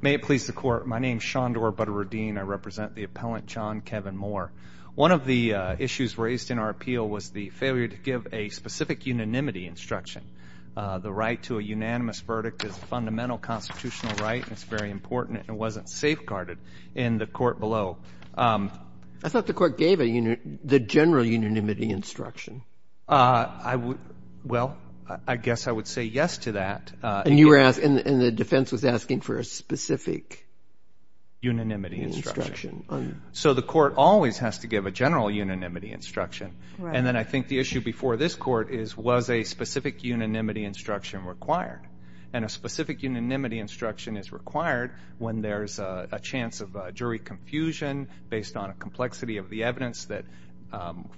May it please the court. My name is Shandor Badruddin. I represent the appellant, John Kevin Moore. One of the issues raised in our appeal was the failure to give a specific unanimity instruction. The right to a unanimous verdict is a fundamental constitutional right, and it's very important, and it wasn't safeguarded in the court below. I thought the court gave the general unanimity instruction. Well, I guess I would say yes to that. And the defense was asking for a specific unanimity instruction. So the court always has to give a general unanimity instruction. And then I think the issue before this court is, was a specific unanimity instruction required? And a specific unanimity instruction is required when there's a chance of jury confusion based on a complexity of the evidence that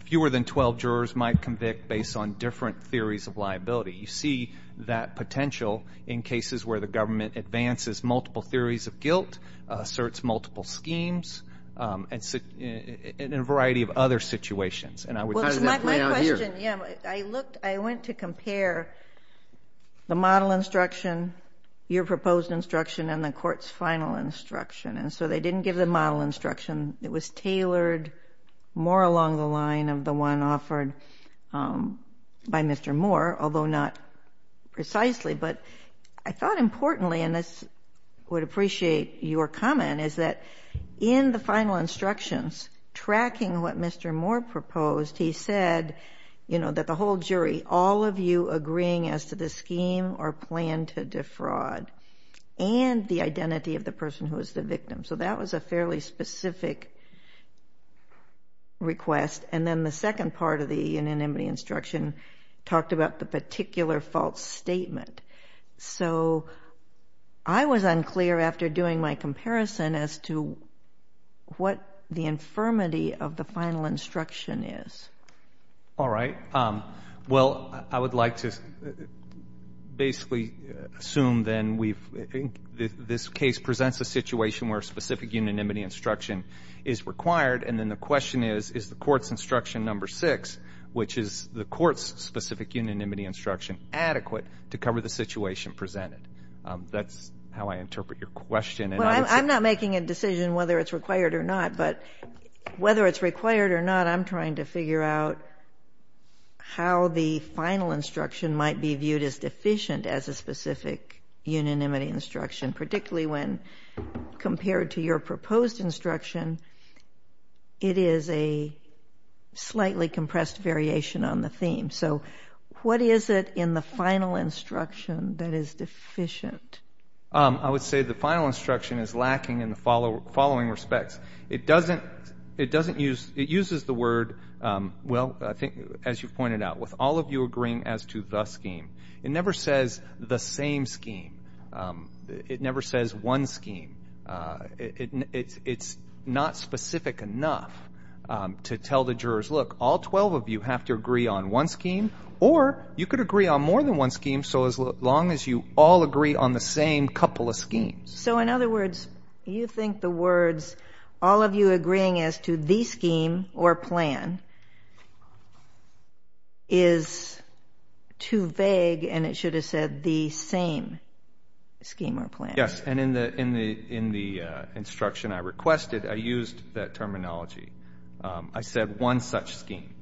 fewer than 12 jurors might convict based on different theories of liability. You see that potential in cases where the government advances multiple theories of guilt, asserts multiple schemes, and in a variety of other situations. Well, it's my question. I went to compare the model instruction, your proposed instruction, and the court's final instruction, and so they didn't give the model instruction. It was tailored more along the line of the one offered by Mr. Moore, although not precisely. But I thought importantly, and this would appreciate your comment, is that in the final instructions, tracking what Mr. Moore proposed, he said that the whole jury, all of you agreeing as to the scheme or plan to defraud, and the identity of the person who is the victim. So that was a fairly specific request. And then the second part of the unanimity instruction talked about the particular false statement. So I was unclear after doing my comparison as to what the infirmity of the final instruction is. All right. Well, I would like to basically assume then this case presents a situation where a specific unanimity instruction is required, and then the question is, is the court's instruction number six, which is the court's specific unanimity instruction, adequate to cover the situation presented? That's how I interpret your question. Well, I'm not making a decision whether it's required or not. But whether it's required or not, I'm trying to figure out how the final instruction might be viewed as deficient as a specific unanimity instruction, particularly when compared to your proposed instruction, it is a slightly compressed variation on the theme. So what is it in the final instruction that is deficient? I would say the final instruction is lacking in the following respects. It uses the word, well, as you pointed out, with all of you agreeing as to the scheme. It never says the same scheme. It never says one scheme. It's not specific enough to tell the jurors, look, all 12 of you have to agree on one scheme, or you could agree on more than one scheme so as long as you all agree on the same couple of schemes. So in other words, you think the words all of you agreeing as to the scheme or plan is too vague and it should have said the same scheme or plan. Yes, and in the instruction I requested, I used that terminology. I said one such scheme.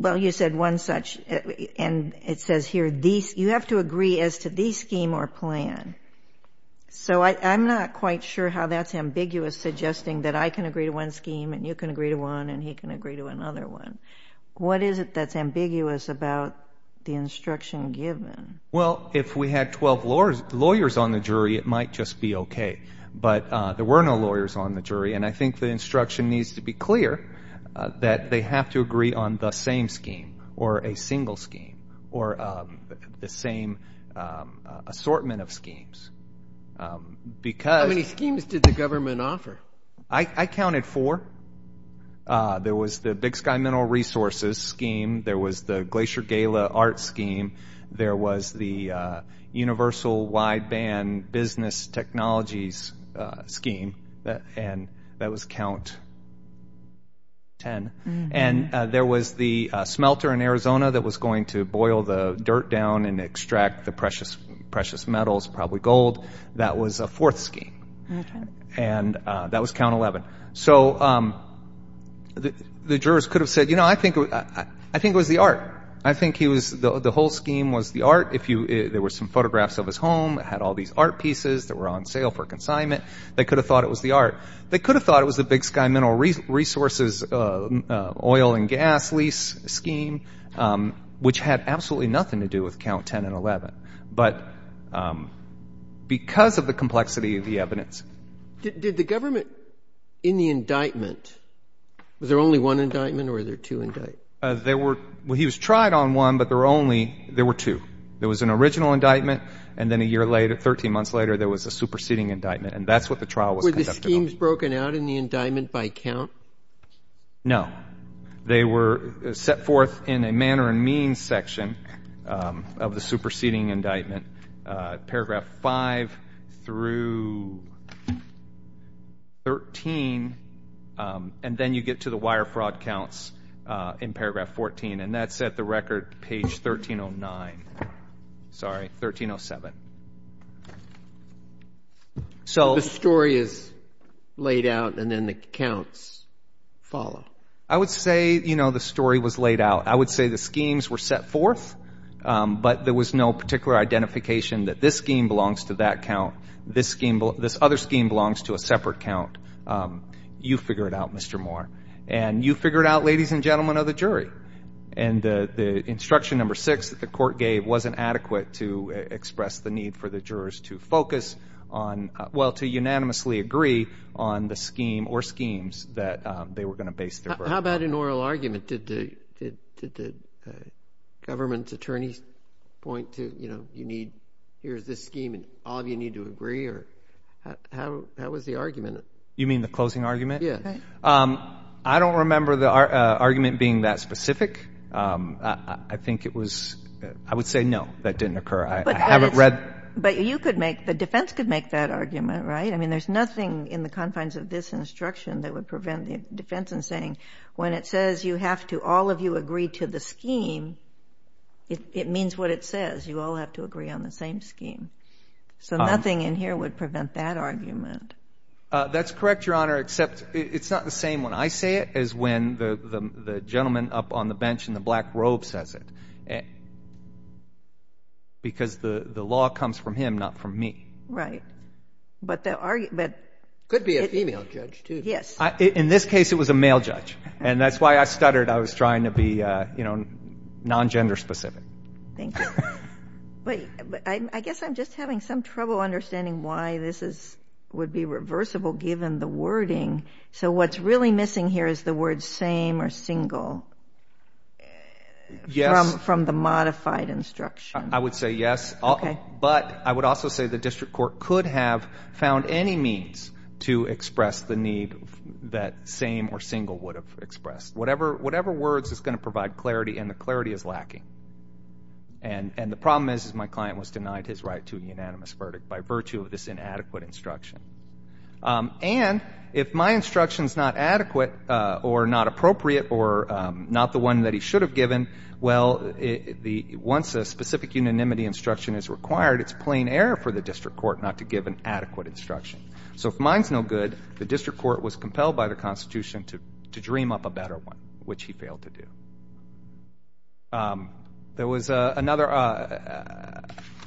Well, you said one such, and it says here you have to agree as to the scheme or plan. So I'm not quite sure how that's ambiguous, suggesting that I can agree to one scheme and you can agree to one and he can agree to another one. What is it that's ambiguous about the instruction given? Well, if we had 12 lawyers on the jury, it might just be okay. But there were no lawyers on the jury, and I think the instruction needs to be clear that they have to agree on the same scheme or a single scheme or the same assortment of schemes. How many schemes did the government offer? I counted four. There was the Big Sky Mineral Resources Scheme. There was the Glacier Gala Art Scheme. There was the Universal Wideband Business Technologies Scheme, and that was count 10. And there was the smelter in Arizona that was going to boil the dirt down and extract the precious metals, probably gold. That was a fourth scheme, and that was count 11. So the jurors could have said, you know, I think it was the art. I think he was the whole scheme was the art. There were some photographs of his home. It had all these art pieces that were on sale for consignment. They could have thought it was the art. They could have thought it was the Big Sky Mineral Resources Oil and Gas Lease Scheme, which had absolutely nothing to do with count 10 and 11, but because of the complexity of the evidence. Did the government in the indictment, was there only one indictment or were there two indictments? There were, well, he was tried on one, but there were only, there were two. There was an original indictment, and then a year later, 13 months later, there was a superseding indictment, and that's what the trial was conducted on. Were the schemes broken out in the indictment by count? No. They were set forth in a manner and means section of the superseding indictment, paragraph 5 through 13, and then you get to the wire fraud counts in paragraph 14, and that's at the record, page 1309. Sorry, 1307. So the story is laid out and then the counts follow. I would say, you know, the story was laid out. I would say the schemes were set forth, but there was no particular identification that this scheme belongs to that count, this other scheme belongs to a separate count. You figure it out, Mr. Moore, and you figure it out, ladies and gentlemen of the jury. And the instruction number six that the court gave wasn't adequate to express the need for the jurors to focus on, well, to unanimously agree on the scheme or schemes that they were going to base their verdict on. How about an oral argument? Did the government attorneys point to, you know, here's this scheme and all of you need to agree? How was the argument? You mean the closing argument? Yes. I don't remember the argument being that specific. I think it was, I would say no, that didn't occur. I haven't read. But you could make, the defense could make that argument, right? I mean, there's nothing in the confines of this instruction that would prevent the defense from saying when it says you have to all of you agree to the scheme, it means what it says. You all have to agree on the same scheme. So nothing in here would prevent that argument. That's correct, Your Honor, except it's not the same when I say it as when the gentleman up on the bench in the black robe says it. Because the law comes from him, not from me. Right. But the argument could be a female judge too. Yes. In this case it was a male judge, and that's why I stuttered. I was trying to be, you know, non-gender specific. Thank you. But I guess I'm just having some trouble understanding why this would be reversible given the wording. So what's really missing here is the word same or single from the modified instruction. I would say yes. Okay. But I would also say the district court could have found any means to express the need that same or single would have expressed. Whatever words is going to provide clarity, and the clarity is lacking. And the problem is my client was denied his right to a unanimous verdict by virtue of this inadequate instruction. And if my instruction is not adequate or not appropriate or not the one that he should have given, well, once a specific unanimity instruction is required, it's plain error for the district court not to give an adequate instruction. So if mine's no good, the district court was compelled by the Constitution to dream up a better one, which he failed to do. There was another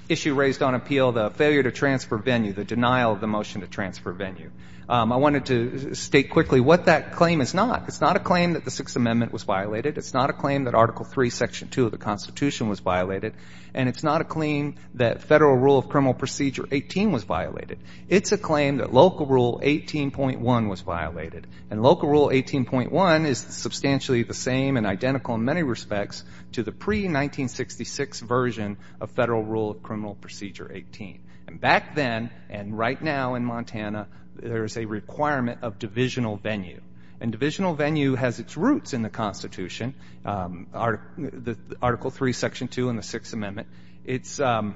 issue raised on appeal, the failure to transfer venue, the denial of the motion to transfer venue. I wanted to state quickly what that claim is not. It's not a claim that the Sixth Amendment was violated. It's not a claim that Article III, Section 2 of the Constitution was violated. And it's not a claim that Federal Rule of Criminal Procedure 18 was violated. It's a claim that Local Rule 18.1 was violated. And Local Rule 18.1 is substantially the same and identical in many respects to the pre-1966 version of Federal Rule of Criminal Procedure 18. And back then and right now in Montana, there is a requirement of divisional venue. And divisional venue has its roots in the Constitution, Article III, Section 2, and the Sixth Amendment. It's ‑‑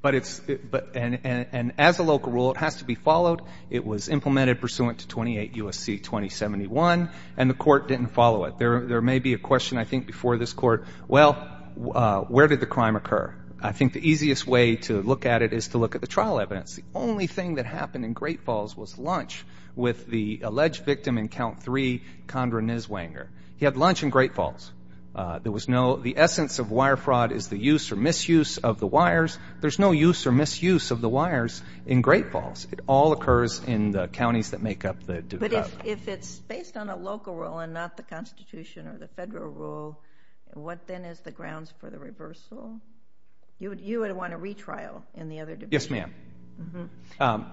but it's ‑‑ and as a local rule, it has to be followed. It was implemented pursuant to 28 U.S.C. 2071, and the court didn't follow it. There may be a question, I think, before this court, well, where did the crime occur? I think the easiest way to look at it is to look at the trial evidence. The only thing that happened in Great Falls was lunch with the alleged victim in Count III, Condra Niswanger. He had lunch in Great Falls. There was no ‑‑ the essence of wire fraud is the use or misuse of the wires. There's no use or misuse of the wires in Great Falls. It all occurs in the counties that make up the ‑‑ But if it's based on a local rule and not the Constitution or the Federal Rule, what then is the grounds for the reversal? You would want a retrial in the other division. Yes, ma'am.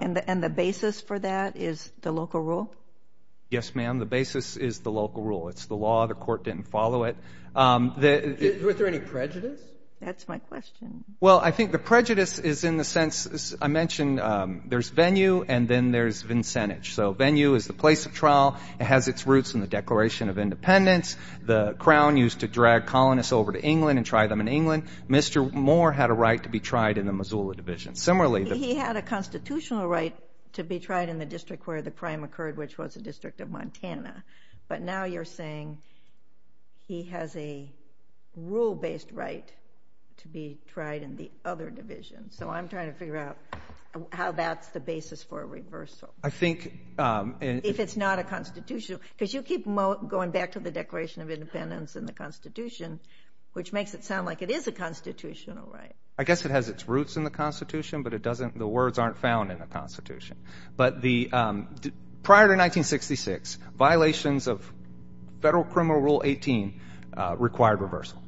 And the basis for that is the local rule? Yes, ma'am. The basis is the local rule. It's the law. The court didn't follow it. Was there any prejudice? That's my question. Well, I think the prejudice is in the sense, as I mentioned, there's venue and then there's vincentage. So venue is the place of trial. It has its roots in the Declaration of Independence. The Crown used to drag colonists over to England and try them in England. Mr. Moore had a right to be tried in the Missoula Division. Similarly ‑‑ He had a constitutional right to be tried in the district where the crime occurred, which was the District of Montana. But now you're saying he has a rule-based right to be tried in the other division. So I'm trying to figure out how that's the basis for a reversal. I think ‑‑ If it's not a constitutional ‑‑ Because you keep going back to the Declaration of Independence and the Constitution, which makes it sound like it is a constitutional right. I guess it has its roots in the Constitution, but the words aren't found in the Constitution. But prior to 1966, violations of Federal Criminal Rule 18 required reversal.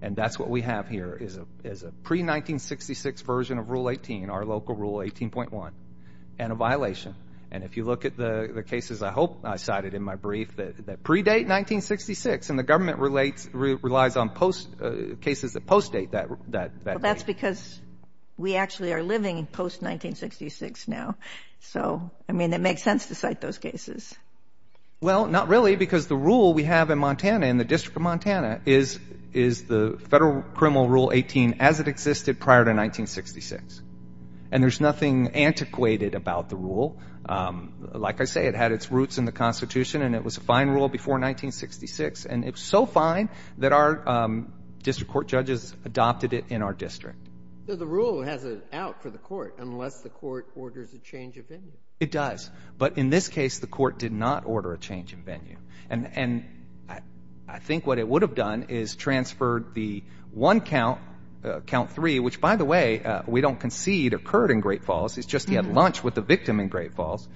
And that's what we have here is a pre‑1966 version of Rule 18, our local Rule 18.1, and a violation. And if you look at the cases I hope I cited in my brief that predate 1966, and the government relies on cases that post‑date that ‑‑ Well, that's because we actually are living post‑1966 now. So, I mean, it makes sense to cite those cases. Well, not really, because the rule we have in Montana, in the District of Montana, is the Federal Criminal Rule 18 as it existed prior to 1966. And there's nothing antiquated about the rule. Like I say, it had its roots in the Constitution, and it was a fine rule before 1966. And it was so fine that our district court judges adopted it in our district. So the rule has an out for the court unless the court orders a change of venue. It does. But in this case, the court did not order a change of venue. And I think what it would have done is transferred the one count, count three, which, by the way, we don't concede occurred in Great Falls. It's just he had lunch with the victim in Great Falls.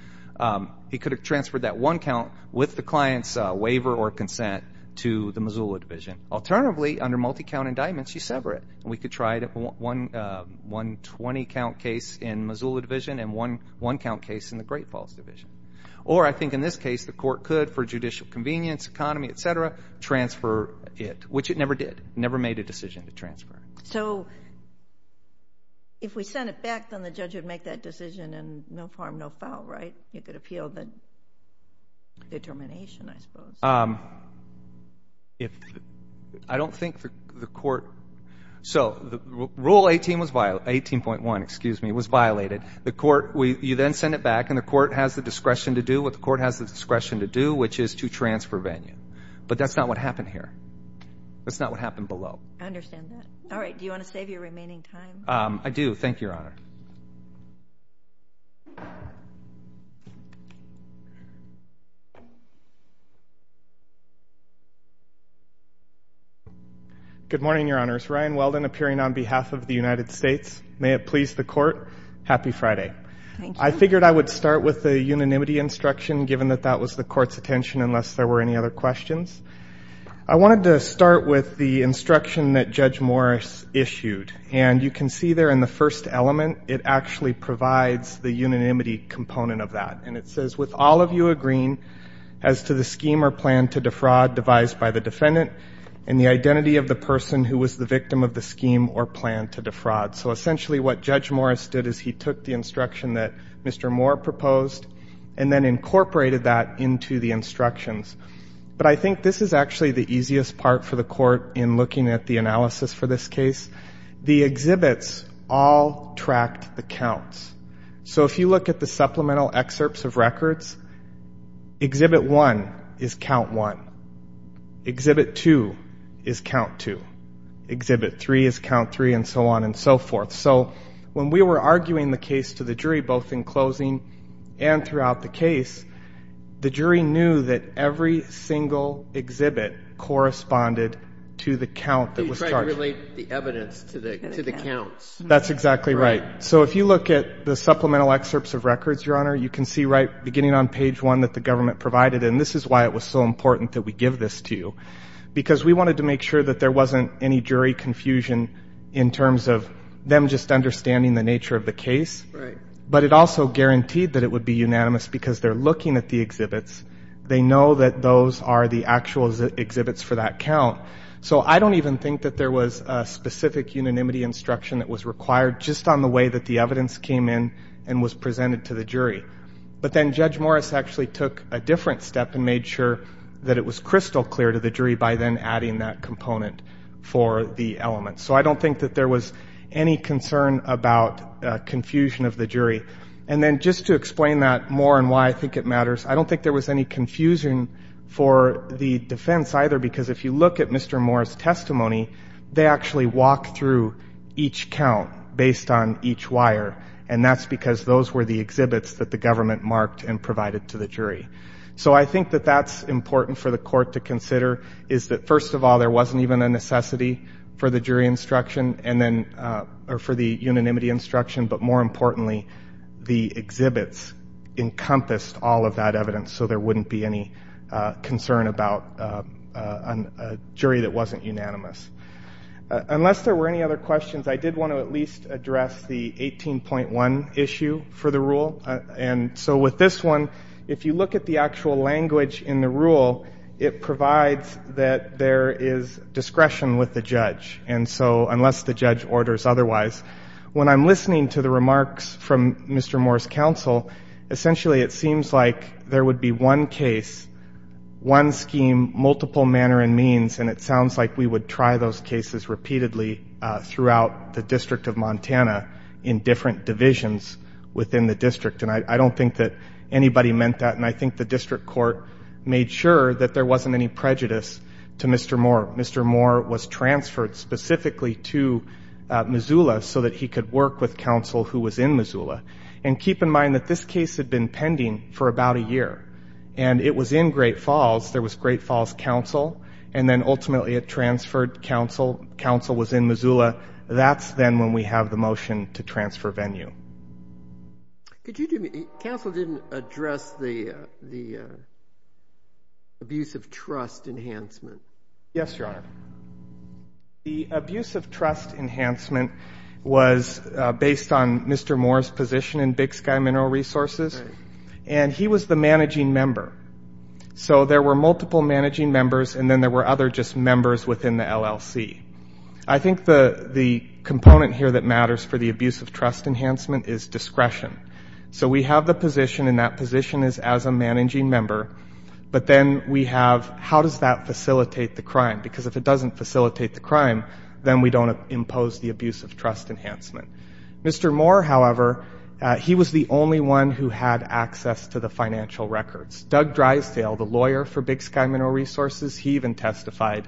He could have transferred that one count with the client's waiver or consent to the Missoula Division. Alternatively, under multi‑count indictments, you sever it. We could try it at one 20‑count case in Missoula Division and one one‑count case in the Great Falls Division. Or I think in this case the court could, for judicial convenience, economy, et cetera, transfer it, which it never did, never made a decision to transfer. So if we send it back, then the judge would make that decision and no harm, no foul, right? You could appeal the determination, I suppose. I don't think the court ‑‑ so Rule 18.1 was violated. You then send it back, and the court has the discretion to do what the court has the discretion to do, which is to transfer venue. But that's not what happened here. That's not what happened below. I understand that. All right. Do you want to save your remaining time? I do. Thank you, Your Honor. Good morning, Your Honors. Ryan Weldon appearing on behalf of the United States. May it please the court, happy Friday. I figured I would start with the unanimity instruction, given that that was the court's attention unless there were any other questions. I wanted to start with the instruction that Judge Morris issued. And you can see there in the first element, it actually provides the unanimity component of that. And it says, with all of you agreeing as to the scheme or plan to defraud devised by the defendant and the identity of the person who was the victim of the scheme or plan to defraud. So essentially what Judge Morris did is he took the instruction that Mr. Moore proposed and then incorporated that into the instructions. But I think this is actually the easiest part for the court in looking at the analysis for this case. The exhibits all tracked the counts. So if you look at the supplemental excerpts of records, exhibit one is count one. Exhibit two is count two. Exhibit three is count three, and so on and so forth. So when we were arguing the case to the jury, both in closing and throughout the case, the jury knew that every single exhibit corresponded to the count that was charged. You tried to relate the evidence to the counts. That's exactly right. So if you look at the supplemental excerpts of records, Your Honor, you can see right beginning on page one that the government provided. And this is why it was so important that we give this to you, because we wanted to make sure that there wasn't any jury confusion in terms of them just understanding the nature of the case. Right. But it also guaranteed that it would be unanimous because they're looking at the exhibits. They know that those are the actual exhibits for that count. So I don't even think that there was a specific unanimity instruction that was required just on the way that the evidence came in and was presented to the jury. But then Judge Morris actually took a different step and made sure that it was crystal clear to the jury by then adding that component for the element. So I don't think that there was any concern about confusion of the jury. And then just to explain that more and why I think it matters, I don't think there was any confusion for the defense either, because if you look at Mr. Morris' testimony, they actually walked through each count based on each wire, and that's because those were the exhibits that the government marked and provided to the jury. So I think that that's important for the court to consider, is that, first of all, there wasn't even a necessity for the jury instruction or for the unanimity instruction. But more importantly, the exhibits encompassed all of that evidence, so there wouldn't be any concern about a jury that wasn't unanimous. Unless there were any other questions, I did want to at least address the 18.1 issue for the rule. So with this one, if you look at the actual language in the rule, it provides that there is discretion with the judge, unless the judge orders otherwise. When I'm listening to the remarks from Mr. Morris' counsel, essentially it seems like there would be one case, one scheme, multiple manner and means, and it sounds like we would try those cases repeatedly throughout the District of Montana in different divisions within the District. And I don't think that anybody meant that, and I think the District Court made sure that there wasn't any prejudice to Mr. Moore. Mr. Moore was transferred specifically to Missoula so that he could work with counsel who was in Missoula. And keep in mind that this case had been pending for about a year, and it was in Great Falls. There was Great Falls counsel, and then ultimately it transferred counsel. Counsel was in Missoula. That's then when we have the motion to transfer venue. Counsel didn't address the abuse of trust enhancement. Yes, Your Honor. The abuse of trust enhancement was based on Mr. Moore's position in Big Sky Mineral Resources, and he was the managing member. So there were multiple managing members, and then there were other just members within the LLC. I think the component here that matters for the abuse of trust enhancement is discretion. So we have the position, and that position is as a managing member, but then we have how does that facilitate the crime, because if it doesn't facilitate the crime, then we don't impose the abuse of trust enhancement. Mr. Moore, however, he was the only one who had access to the financial records. Doug Drysdale, the lawyer for Big Sky Mineral Resources, he even testified,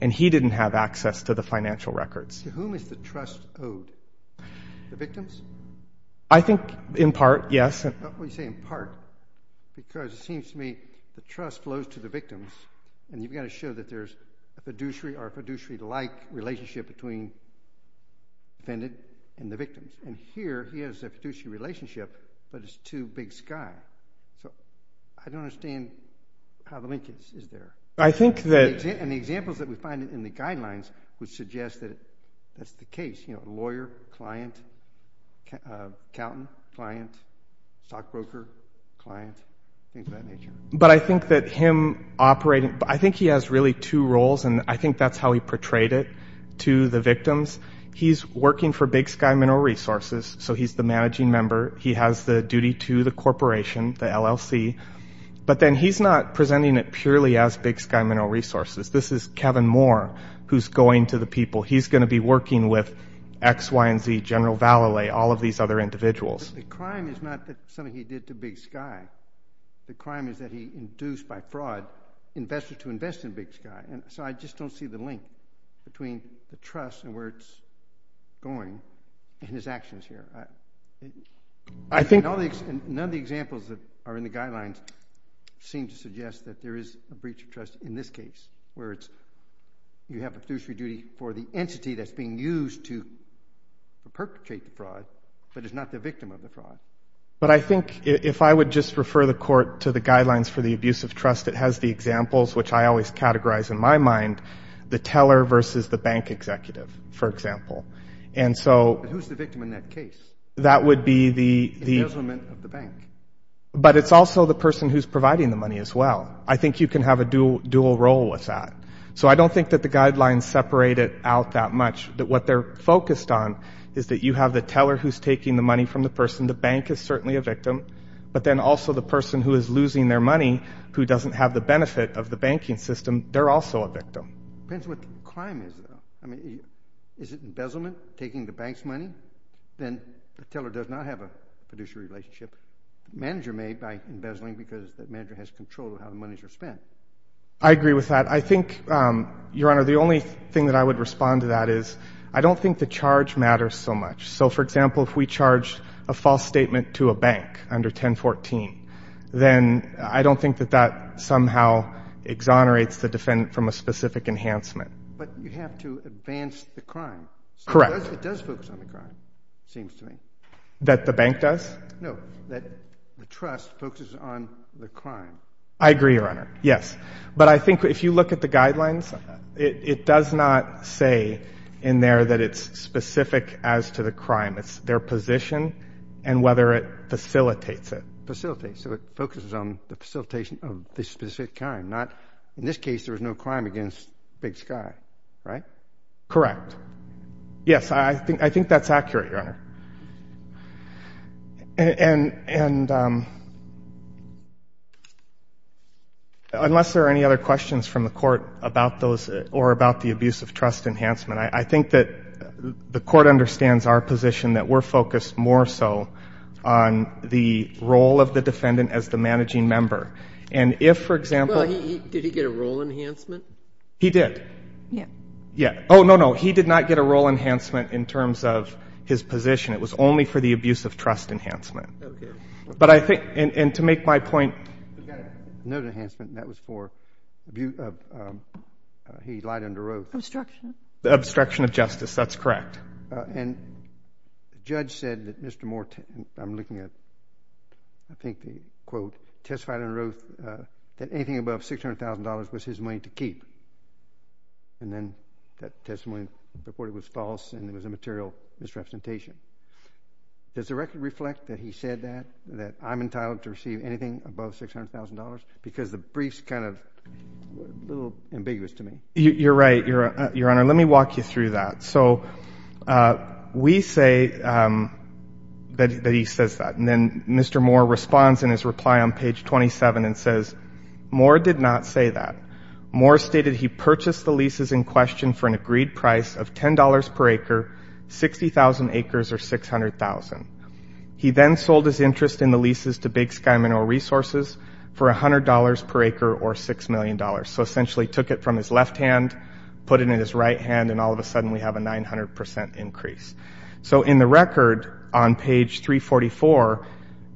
and he didn't have access to the financial records. To whom is the trust owed? The victims? I think in part, yes. You say in part because it seems to me the trust flows to the victims, and you've got to show that there's a fiduciary or a fiduciary-like relationship between the defendant and the victim. And here he has a fiduciary relationship, but it's to Big Sky. So I don't understand how the linkage is there. I think that— And the examples that we find in the guidelines would suggest that that's the case, you know, lawyer, client, accountant, client, stockbroker, client, things of that nature. But I think that him operating—I think he has really two roles, and I think that's how he portrayed it to the victims. He's working for Big Sky Mineral Resources, so he's the managing member. He has the duty to the corporation, the LLC. But then he's not presenting it purely as Big Sky Mineral Resources. This is Kevin Moore who's going to the people. He's going to be working with X, Y, and Z, General Vallalay, all of these other individuals. But the crime is not something he did to Big Sky. The crime is that he induced by fraud investors to invest in Big Sky. So I just don't see the link between the trust and where it's going and his actions here. None of the examples that are in the guidelines seem to suggest that there is a breach of trust in this case, where you have a fiduciary duty for the entity that's being used to perpetrate the fraud, but is not the victim of the fraud. But I think if I would just refer the court to the guidelines for the abuse of trust, it has the examples, which I always categorize in my mind, the teller versus the bank executive, for example. And so— But who's the victim in that case? That would be the— The embezzlement of the bank. But it's also the person who's providing the money as well. I think you can have a dual role with that. So I don't think that the guidelines separate it out that much. What they're focused on is that you have the teller who's taking the money from the person. The bank is certainly a victim. But then also the person who is losing their money, who doesn't have the benefit of the banking system, they're also a victim. It depends what the crime is, though. I mean, is it embezzlement, taking the bank's money? Then the teller does not have a fiduciary relationship. The manager may, by embezzling, because the manager has control of how the monies are spent. I agree with that. I think, Your Honor, the only thing that I would respond to that is I don't think the charge matters so much. So, for example, if we charge a false statement to a bank under 1014, then I don't think that that somehow exonerates the defendant from a specific enhancement. But you have to advance the crime. Correct. It does focus on the crime, it seems to me. That the bank does? No, that the trust focuses on the crime. I agree, Your Honor, yes. But I think if you look at the guidelines, it does not say in there that it's specific as to the crime. It's their position and whether it facilitates it. Facilitates, so it focuses on the facilitation of the specific crime, not, in this case, there was no crime against Big Sky, right? Correct. Yes, I think that's accurate, Your Honor. And unless there are any other questions from the court about those or about the abuse of trust enhancement, I think that the court understands our position, that we're focused more so on the role of the defendant as the managing member. And if, for example. Well, did he get a role enhancement? He did. Yeah. Oh, no, no, he did not get a role enhancement in terms of his position. It was only for the abuse of trust enhancement. Okay. But I think, and to make my point. He got a note enhancement and that was for abuse of, he lied under oath. Obstruction. Obstruction of justice, that's correct. And the judge said that Mr. Moore, I'm looking at, I think the quote, testified under oath that anything above $600,000 was his money to keep. And then that testimony reported was false and it was a material misrepresentation. Does the record reflect that he said that, that I'm entitled to receive anything above $600,000? Because the brief's kind of a little ambiguous to me. You're right, Your Honor. Let me walk you through that. So we say that he says that. And then Mr. Moore responds in his reply on page 27 and says, Moore did not say that. Moore stated he purchased the leases in question for an agreed price of $10 per acre, 60,000 acres or 600,000. He then sold his interest in the leases to Big Sky Mineral Resources for $100 per acre or $6 million. So essentially took it from his left hand, put it in his right hand, and all of a sudden we have a 900% increase. So in the record on page 344,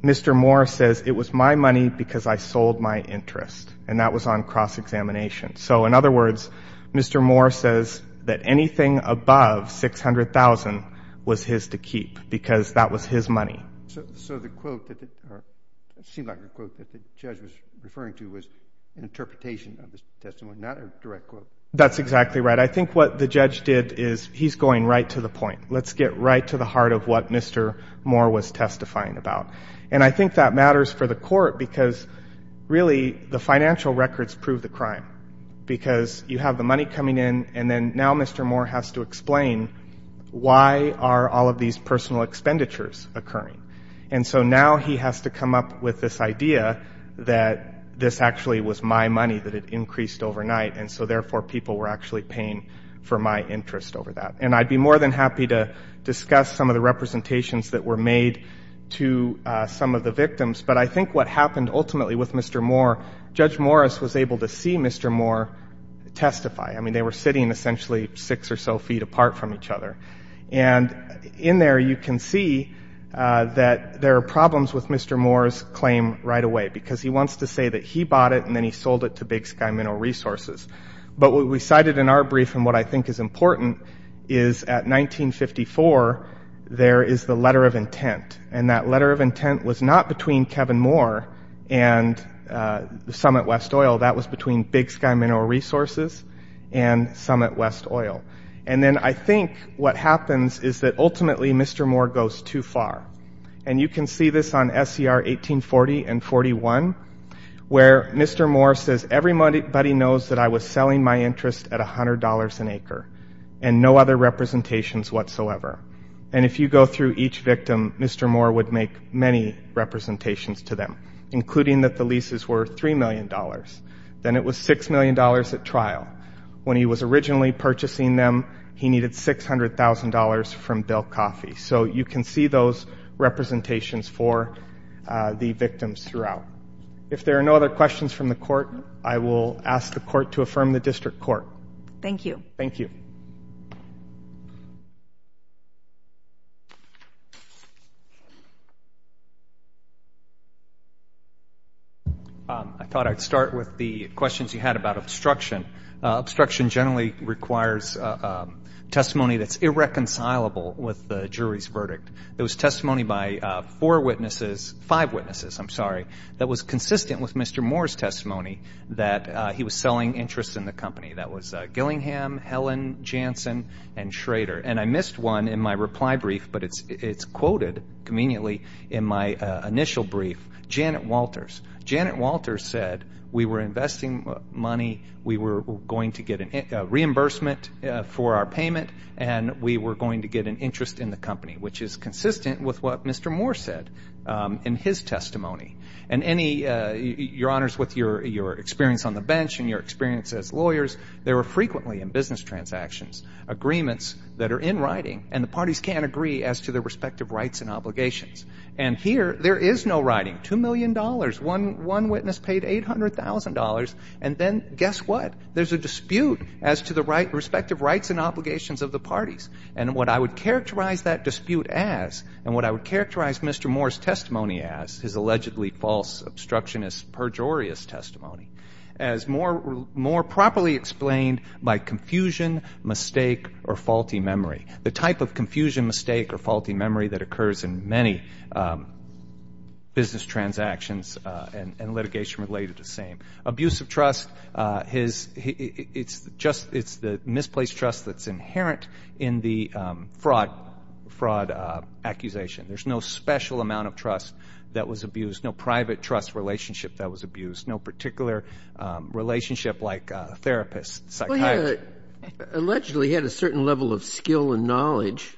Mr. Moore says, it was my money because I sold my interest. And that was on cross-examination. So in other words, Mr. Moore says that anything above $600,000 was his to keep because that was his money. So the quote, it seemed like a quote that the judge was referring to was an interpretation of the testimony, not a direct quote. That's exactly right. But I think what the judge did is he's going right to the point. Let's get right to the heart of what Mr. Moore was testifying about. And I think that matters for the court because really the financial records prove the crime because you have the money coming in. And then now Mr. Moore has to explain why are all of these personal expenditures occurring. And so now he has to come up with this idea that this actually was my money that had increased overnight. And so therefore people were actually paying for my interest over that. And I'd be more than happy to discuss some of the representations that were made to some of the victims. But I think what happened ultimately with Mr. Moore, Judge Morris was able to see Mr. Moore testify. I mean, they were sitting essentially six or so feet apart from each other. And in there you can see that there are problems with Mr. Moore's claim right away because he wants to say that he bought it and then he sold it to Big Sky Mineral Resources. But what we cited in our brief and what I think is important is at 1954 there is the letter of intent. And that letter of intent was not between Kevin Moore and Summit West Oil. That was between Big Sky Mineral Resources and Summit West Oil. And then I think what happens is that ultimately Mr. Moore goes too far. And you can see this on SCR 1840 and 41 where Mr. Moore says everybody knows that I was selling my interest at $100 an acre and no other representations whatsoever. And if you go through each victim, Mr. Moore would make many representations to them, including that the leases were $3 million. Then it was $6 million at trial. When he was originally purchasing them, he needed $600,000 from Bill Coffey. So you can see those representations for the victims throughout. If there are no other questions from the court, I will ask the court to affirm the district court. Thank you. Thank you. I thought I'd start with the questions you had about obstruction. Obstruction generally requires testimony that's irreconcilable with the jury's verdict. It was testimony by four witnesses, five witnesses, I'm sorry, that was consistent with Mr. Moore's testimony that he was selling interest in the company. That was Gillingham, Helen, Jansen, and Schrader. And I missed one in my reply brief, but it's quoted conveniently in my initial brief, Janet Walters. Janet Walters said, we were investing money, we were going to get a reimbursement for our payment, and we were going to get an interest in the company, which is consistent with what Mr. Moore said in his testimony. And your honors, with your experience on the bench and your experience as lawyers, there are frequently in business transactions agreements that are in writing, and the parties can't agree as to their respective rights and obligations. And here, there is no writing. Two million dollars, one witness paid $800,000, and then guess what? There's a dispute as to the respective rights and obligations of the parties. And what I would characterize that dispute as, and what I would characterize Mr. Moore's testimony as, his allegedly false obstructionist pejorious testimony, as more properly explained by confusion, mistake, or faulty memory. The type of confusion, mistake, or faulty memory that occurs in many business transactions and litigation related is the same. Abuse of trust, it's the misplaced trust that's inherent in the fraud accusation. There's no special amount of trust that was abused, no private trust relationship that was abused, no particular relationship like therapist, psychiatrist. He allegedly had a certain level of skill and knowledge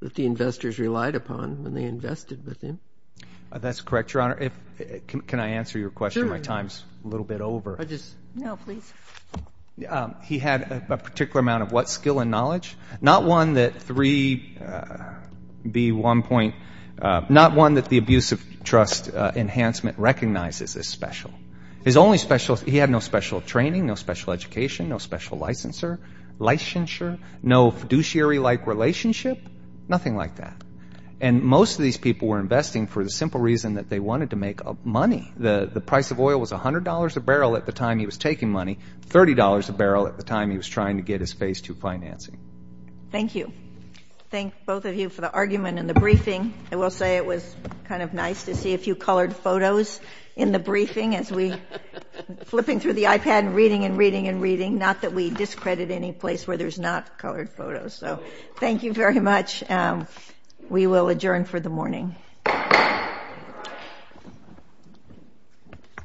that the investors relied upon when they invested with him. That's correct, Your Honor. Can I answer your question? Sure. My time's a little bit over. No, please. He had a particular amount of what? Skill and knowledge? Not one that 3B1. Not one that the abuse of trust enhancement recognizes as special. His only special, he had no special training, no special education, no special licensure, no fiduciary-like relationship, nothing like that. And most of these people were investing for the simple reason that they wanted to make money. The price of oil was $100 a barrel at the time he was taking money, $30 a barrel at the time he was trying to get his Phase II financing. Thank you. Thank both of you for the argument in the briefing. I will say it was kind of nice to see a few colored photos in the briefing as we were flipping through the iPad and reading and reading and reading, not that we discredit any place where there's not colored photos. Thank you very much. We will adjourn for the morning.